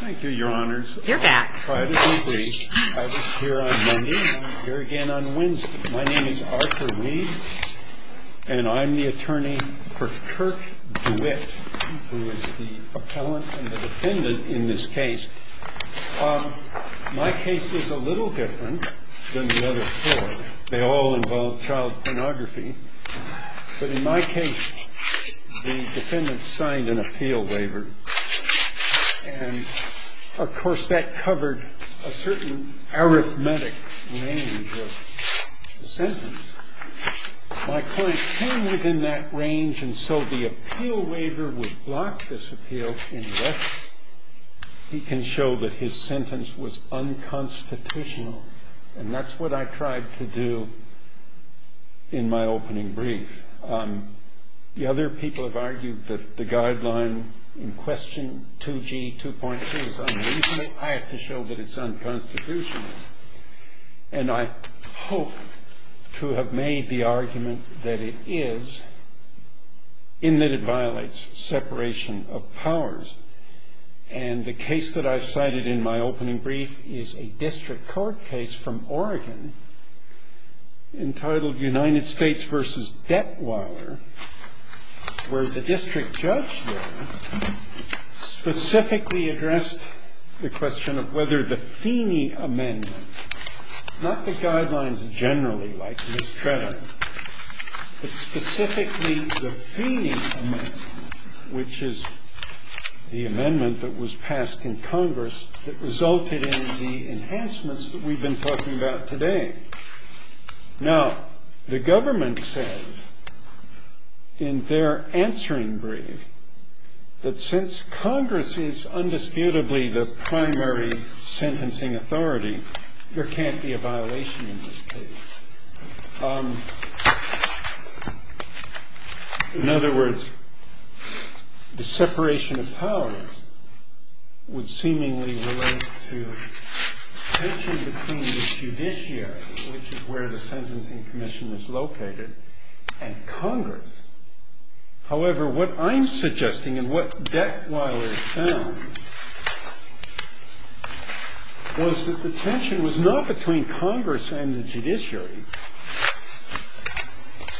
My name is Arthur Reed and I'm the attorney for Kirk Dewitt, who is the appellant and the defendant in this case. My case is a little different than the other four. They all involve child pornography. But in my case, the defendant signed an appeal waiver and of course that covered a certain arithmetic range of the sentence. My client came within that range and so the appeal waiver would block this appeal unless he can show that his sentence was unconstitutional. And that's what I tried to do in my opening brief. The other people have argued that the guideline in question 2G 2.2 is unreasonable. I have to show that it's unconstitutional. And I hope to have made the argument that it is, in that it violates separation of powers. And the case that I've cited in my opening brief is a district court case from Oregon entitled United States v. Detweiler, where the district judge there specifically addressed the question of whether the Feeney Amendment, not the guidelines generally like Ms. Tretter, but specifically the Feeney Amendment, which is the amendment that was passed in Congress that resulted in the enhancements that we've been talking about today. Now, the government says in their answering brief that since Congress is undisputably the primary sentencing authority, there can't be a violation in this case. In other words, the separation of powers would seemingly relate to tension between the judiciary, which is where the Sentencing Commission is located, and Congress. However, what I'm suggesting and what Detweiler found was that the tension was not between Congress and the judiciary,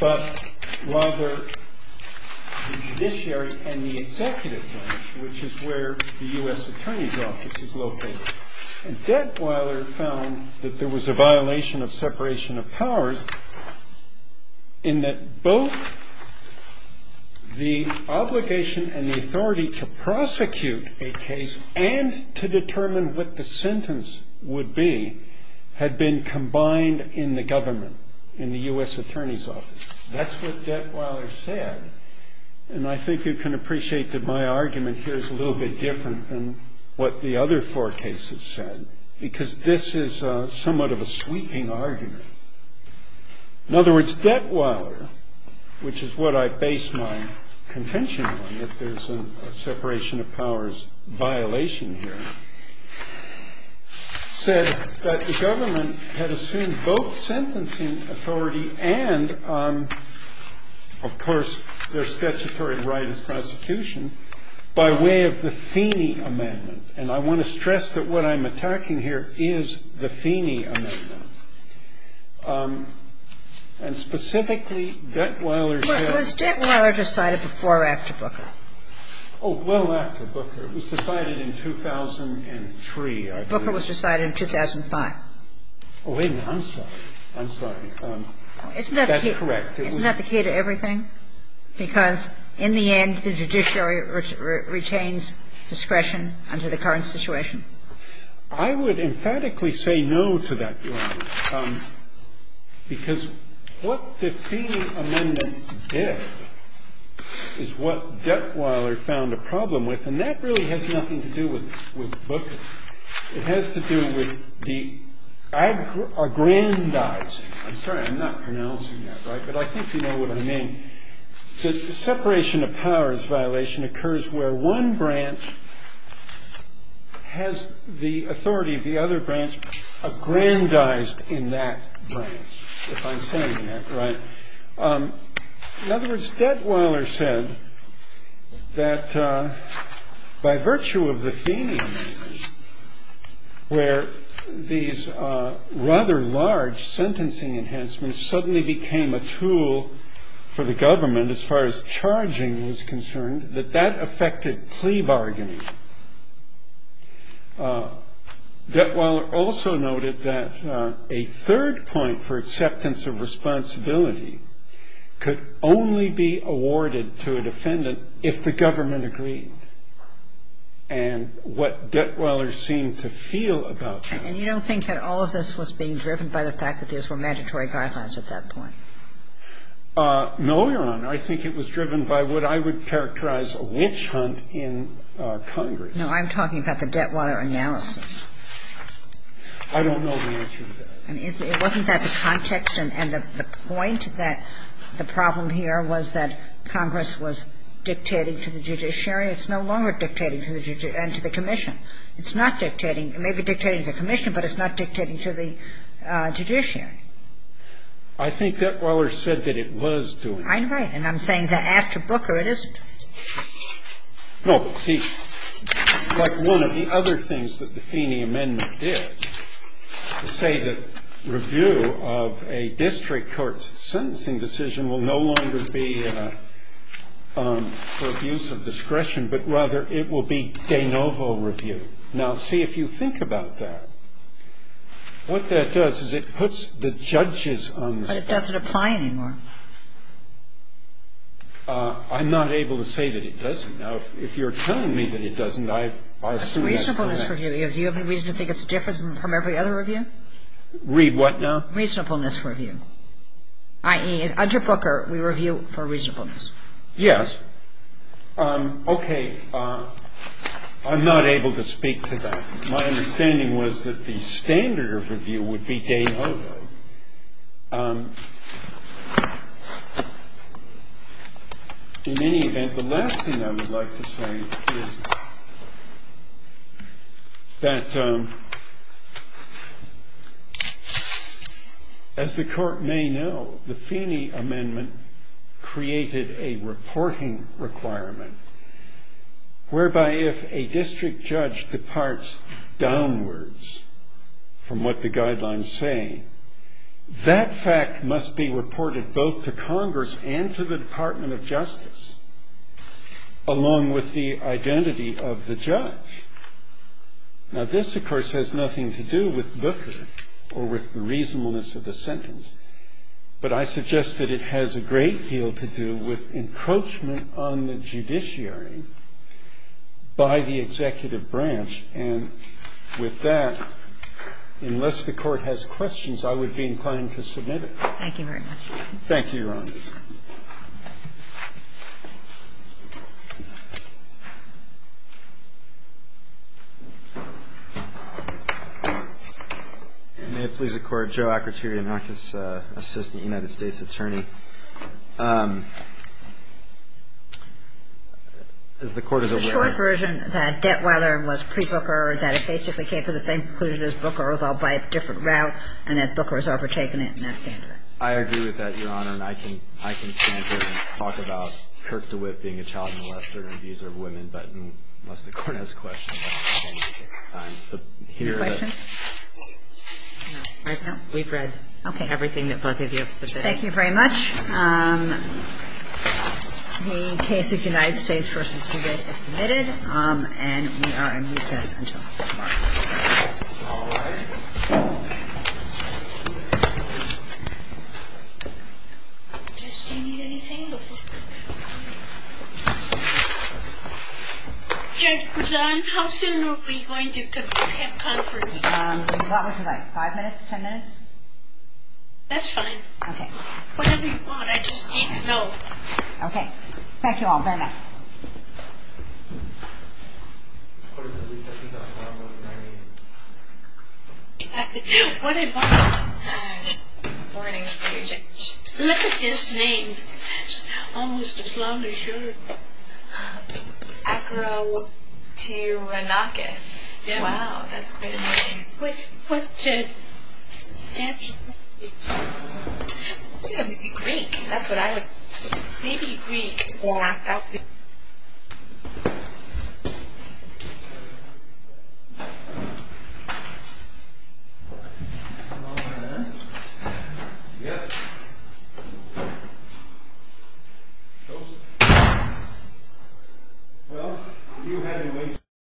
but rather the judiciary and the executive branch, which is where the U.S. Attorney's Office is located. And Detweiler found that there was a violation of separation of powers in that both the obligation and the authority to prosecute a case and to determine what the sentence would be had been combined in the government, in the U.S. Attorney's Office. That's what Detweiler said. And I think you can appreciate that my argument here is a little bit different than what the other four cases said, because this is somewhat of a sweeping argument. In other words, Detweiler, which is what I base my contention on, that there's a separation of powers violation here, said that the government had assumed both sentencing authority and, of course, their statutory right as prosecution by way of the Feeney Amendment. And I want to stress that what I'm attacking here is the Feeney Amendment. And specifically, Detweiler said that... Kagan. Was Detweiler decided before or after Booker? Booker was decided in 2005. Oh, wait a minute. I'm sorry. I'm sorry. That's correct. Isn't that the key to everything? Because in the end, the judiciary retains discretion under the current situation. I would emphatically say no to that, Your Honor, because what the Feeney Amendment did is what Detweiler found a problem with, and that really has nothing to do with Booker. It has to do with the aggrandizing. I'm sorry. I'm not pronouncing that right, but I think you know what I mean. The separation of powers violation occurs where one branch has the authority of the other branch aggrandized in that branch, if I'm saying that right. In other words, Detweiler said that by virtue of the Feeney Amendment, where these rather large sentencing enhancements suddenly became a tool for the government as far as charging was concerned, that that affected plea bargaining. Detweiler also noted that a third point for acceptance of responsibility could only be awarded to a defendant if the government agreed, and what Detweiler seemed to feel about that. And you don't think that all of this was being driven by the fact that these were mandatory guidelines at that point? No, Your Honor. I think it was driven by what I would characterize a lynch hunt in Congress. No, I'm talking about the Detweiler analysis. I don't know the answer to that. It wasn't that the context and the point that the problem here was that Congress was dictating to the judiciary. It's no longer dictating to the judiciary and to the commission. It's not dictating. It may be dictating to the commission, but it's not dictating to the judiciary. I think Detweiler said that it was doing that. I think that's a good point. I'm saying that after Booker, it isn't. No, but see, one of the other things that the Feeney amendments did was say that review of a district court's sentencing decision will no longer be for abuse of discretion, but rather it will be de novo review. Now, see, if you think about that, what that does is it puts the judges on the bench. But it doesn't apply anymore. I'm not able to say that it doesn't. Now, if you're telling me that it doesn't, I assume that's correct. It's reasonableness review. Do you have any reason to think it's different from every other review? Read what now? Reasonableness review, i.e., under Booker, we review for reasonableness. Yes. Okay. I'm not able to speak to that. My understanding was that the standard of review would be de novo. In any event, the last thing I would like to say is that, as the Court may know, the Feeney amendment created a reporting requirement whereby if a district judge departs downwards from what the guidelines say, that fact must be reported both to Congress and to the Department of Justice, along with the identity of the judge. Now, this, of course, has nothing to do with Booker or with the reasonableness of the sentence, but I suggest that it has a great deal to do with encroachment on the judiciary by the executive branch, and with that, unless the Court has questions, I would be inclined to submit it. Thank you very much. Thank you, Your Honor. May it please the Court, Joe Akrotirianakis, assistant United States attorney. As the Court is aware of the version that Debtweiler was pre-Booker, that it basically came to the same conclusion as Booker, although by a different route, and that Booker has overtaken it in that standard. I agree with that, Your Honor, and I can stand here and talk about Kirk DeWitt being a child molester and abuser of women, but unless the Court has questions, I'm inclined to take the time to hear the question. We've read everything that both of you have submitted. Thank you very much. The case of United States v. DeWitt is submitted, and we are in recess until tomorrow. All rise. Judge, do you need anything? Judge, how soon are we going to have conference? What was it like, five minutes, ten minutes? That's fine. Okay. Whatever you want. I just need to know. Okay. Thank you all very much. This Court is in recess until tomorrow at 9 a.m. What did Mark have? Good morning, Judge. Look at his name. It's almost as long as yours. Acro to Anarchis. Wow, that's great. What's his nationality? He's a Greek. That's what I would say. Maybe Greek or African. All in? Yes. Closed? Well, if you have any way to...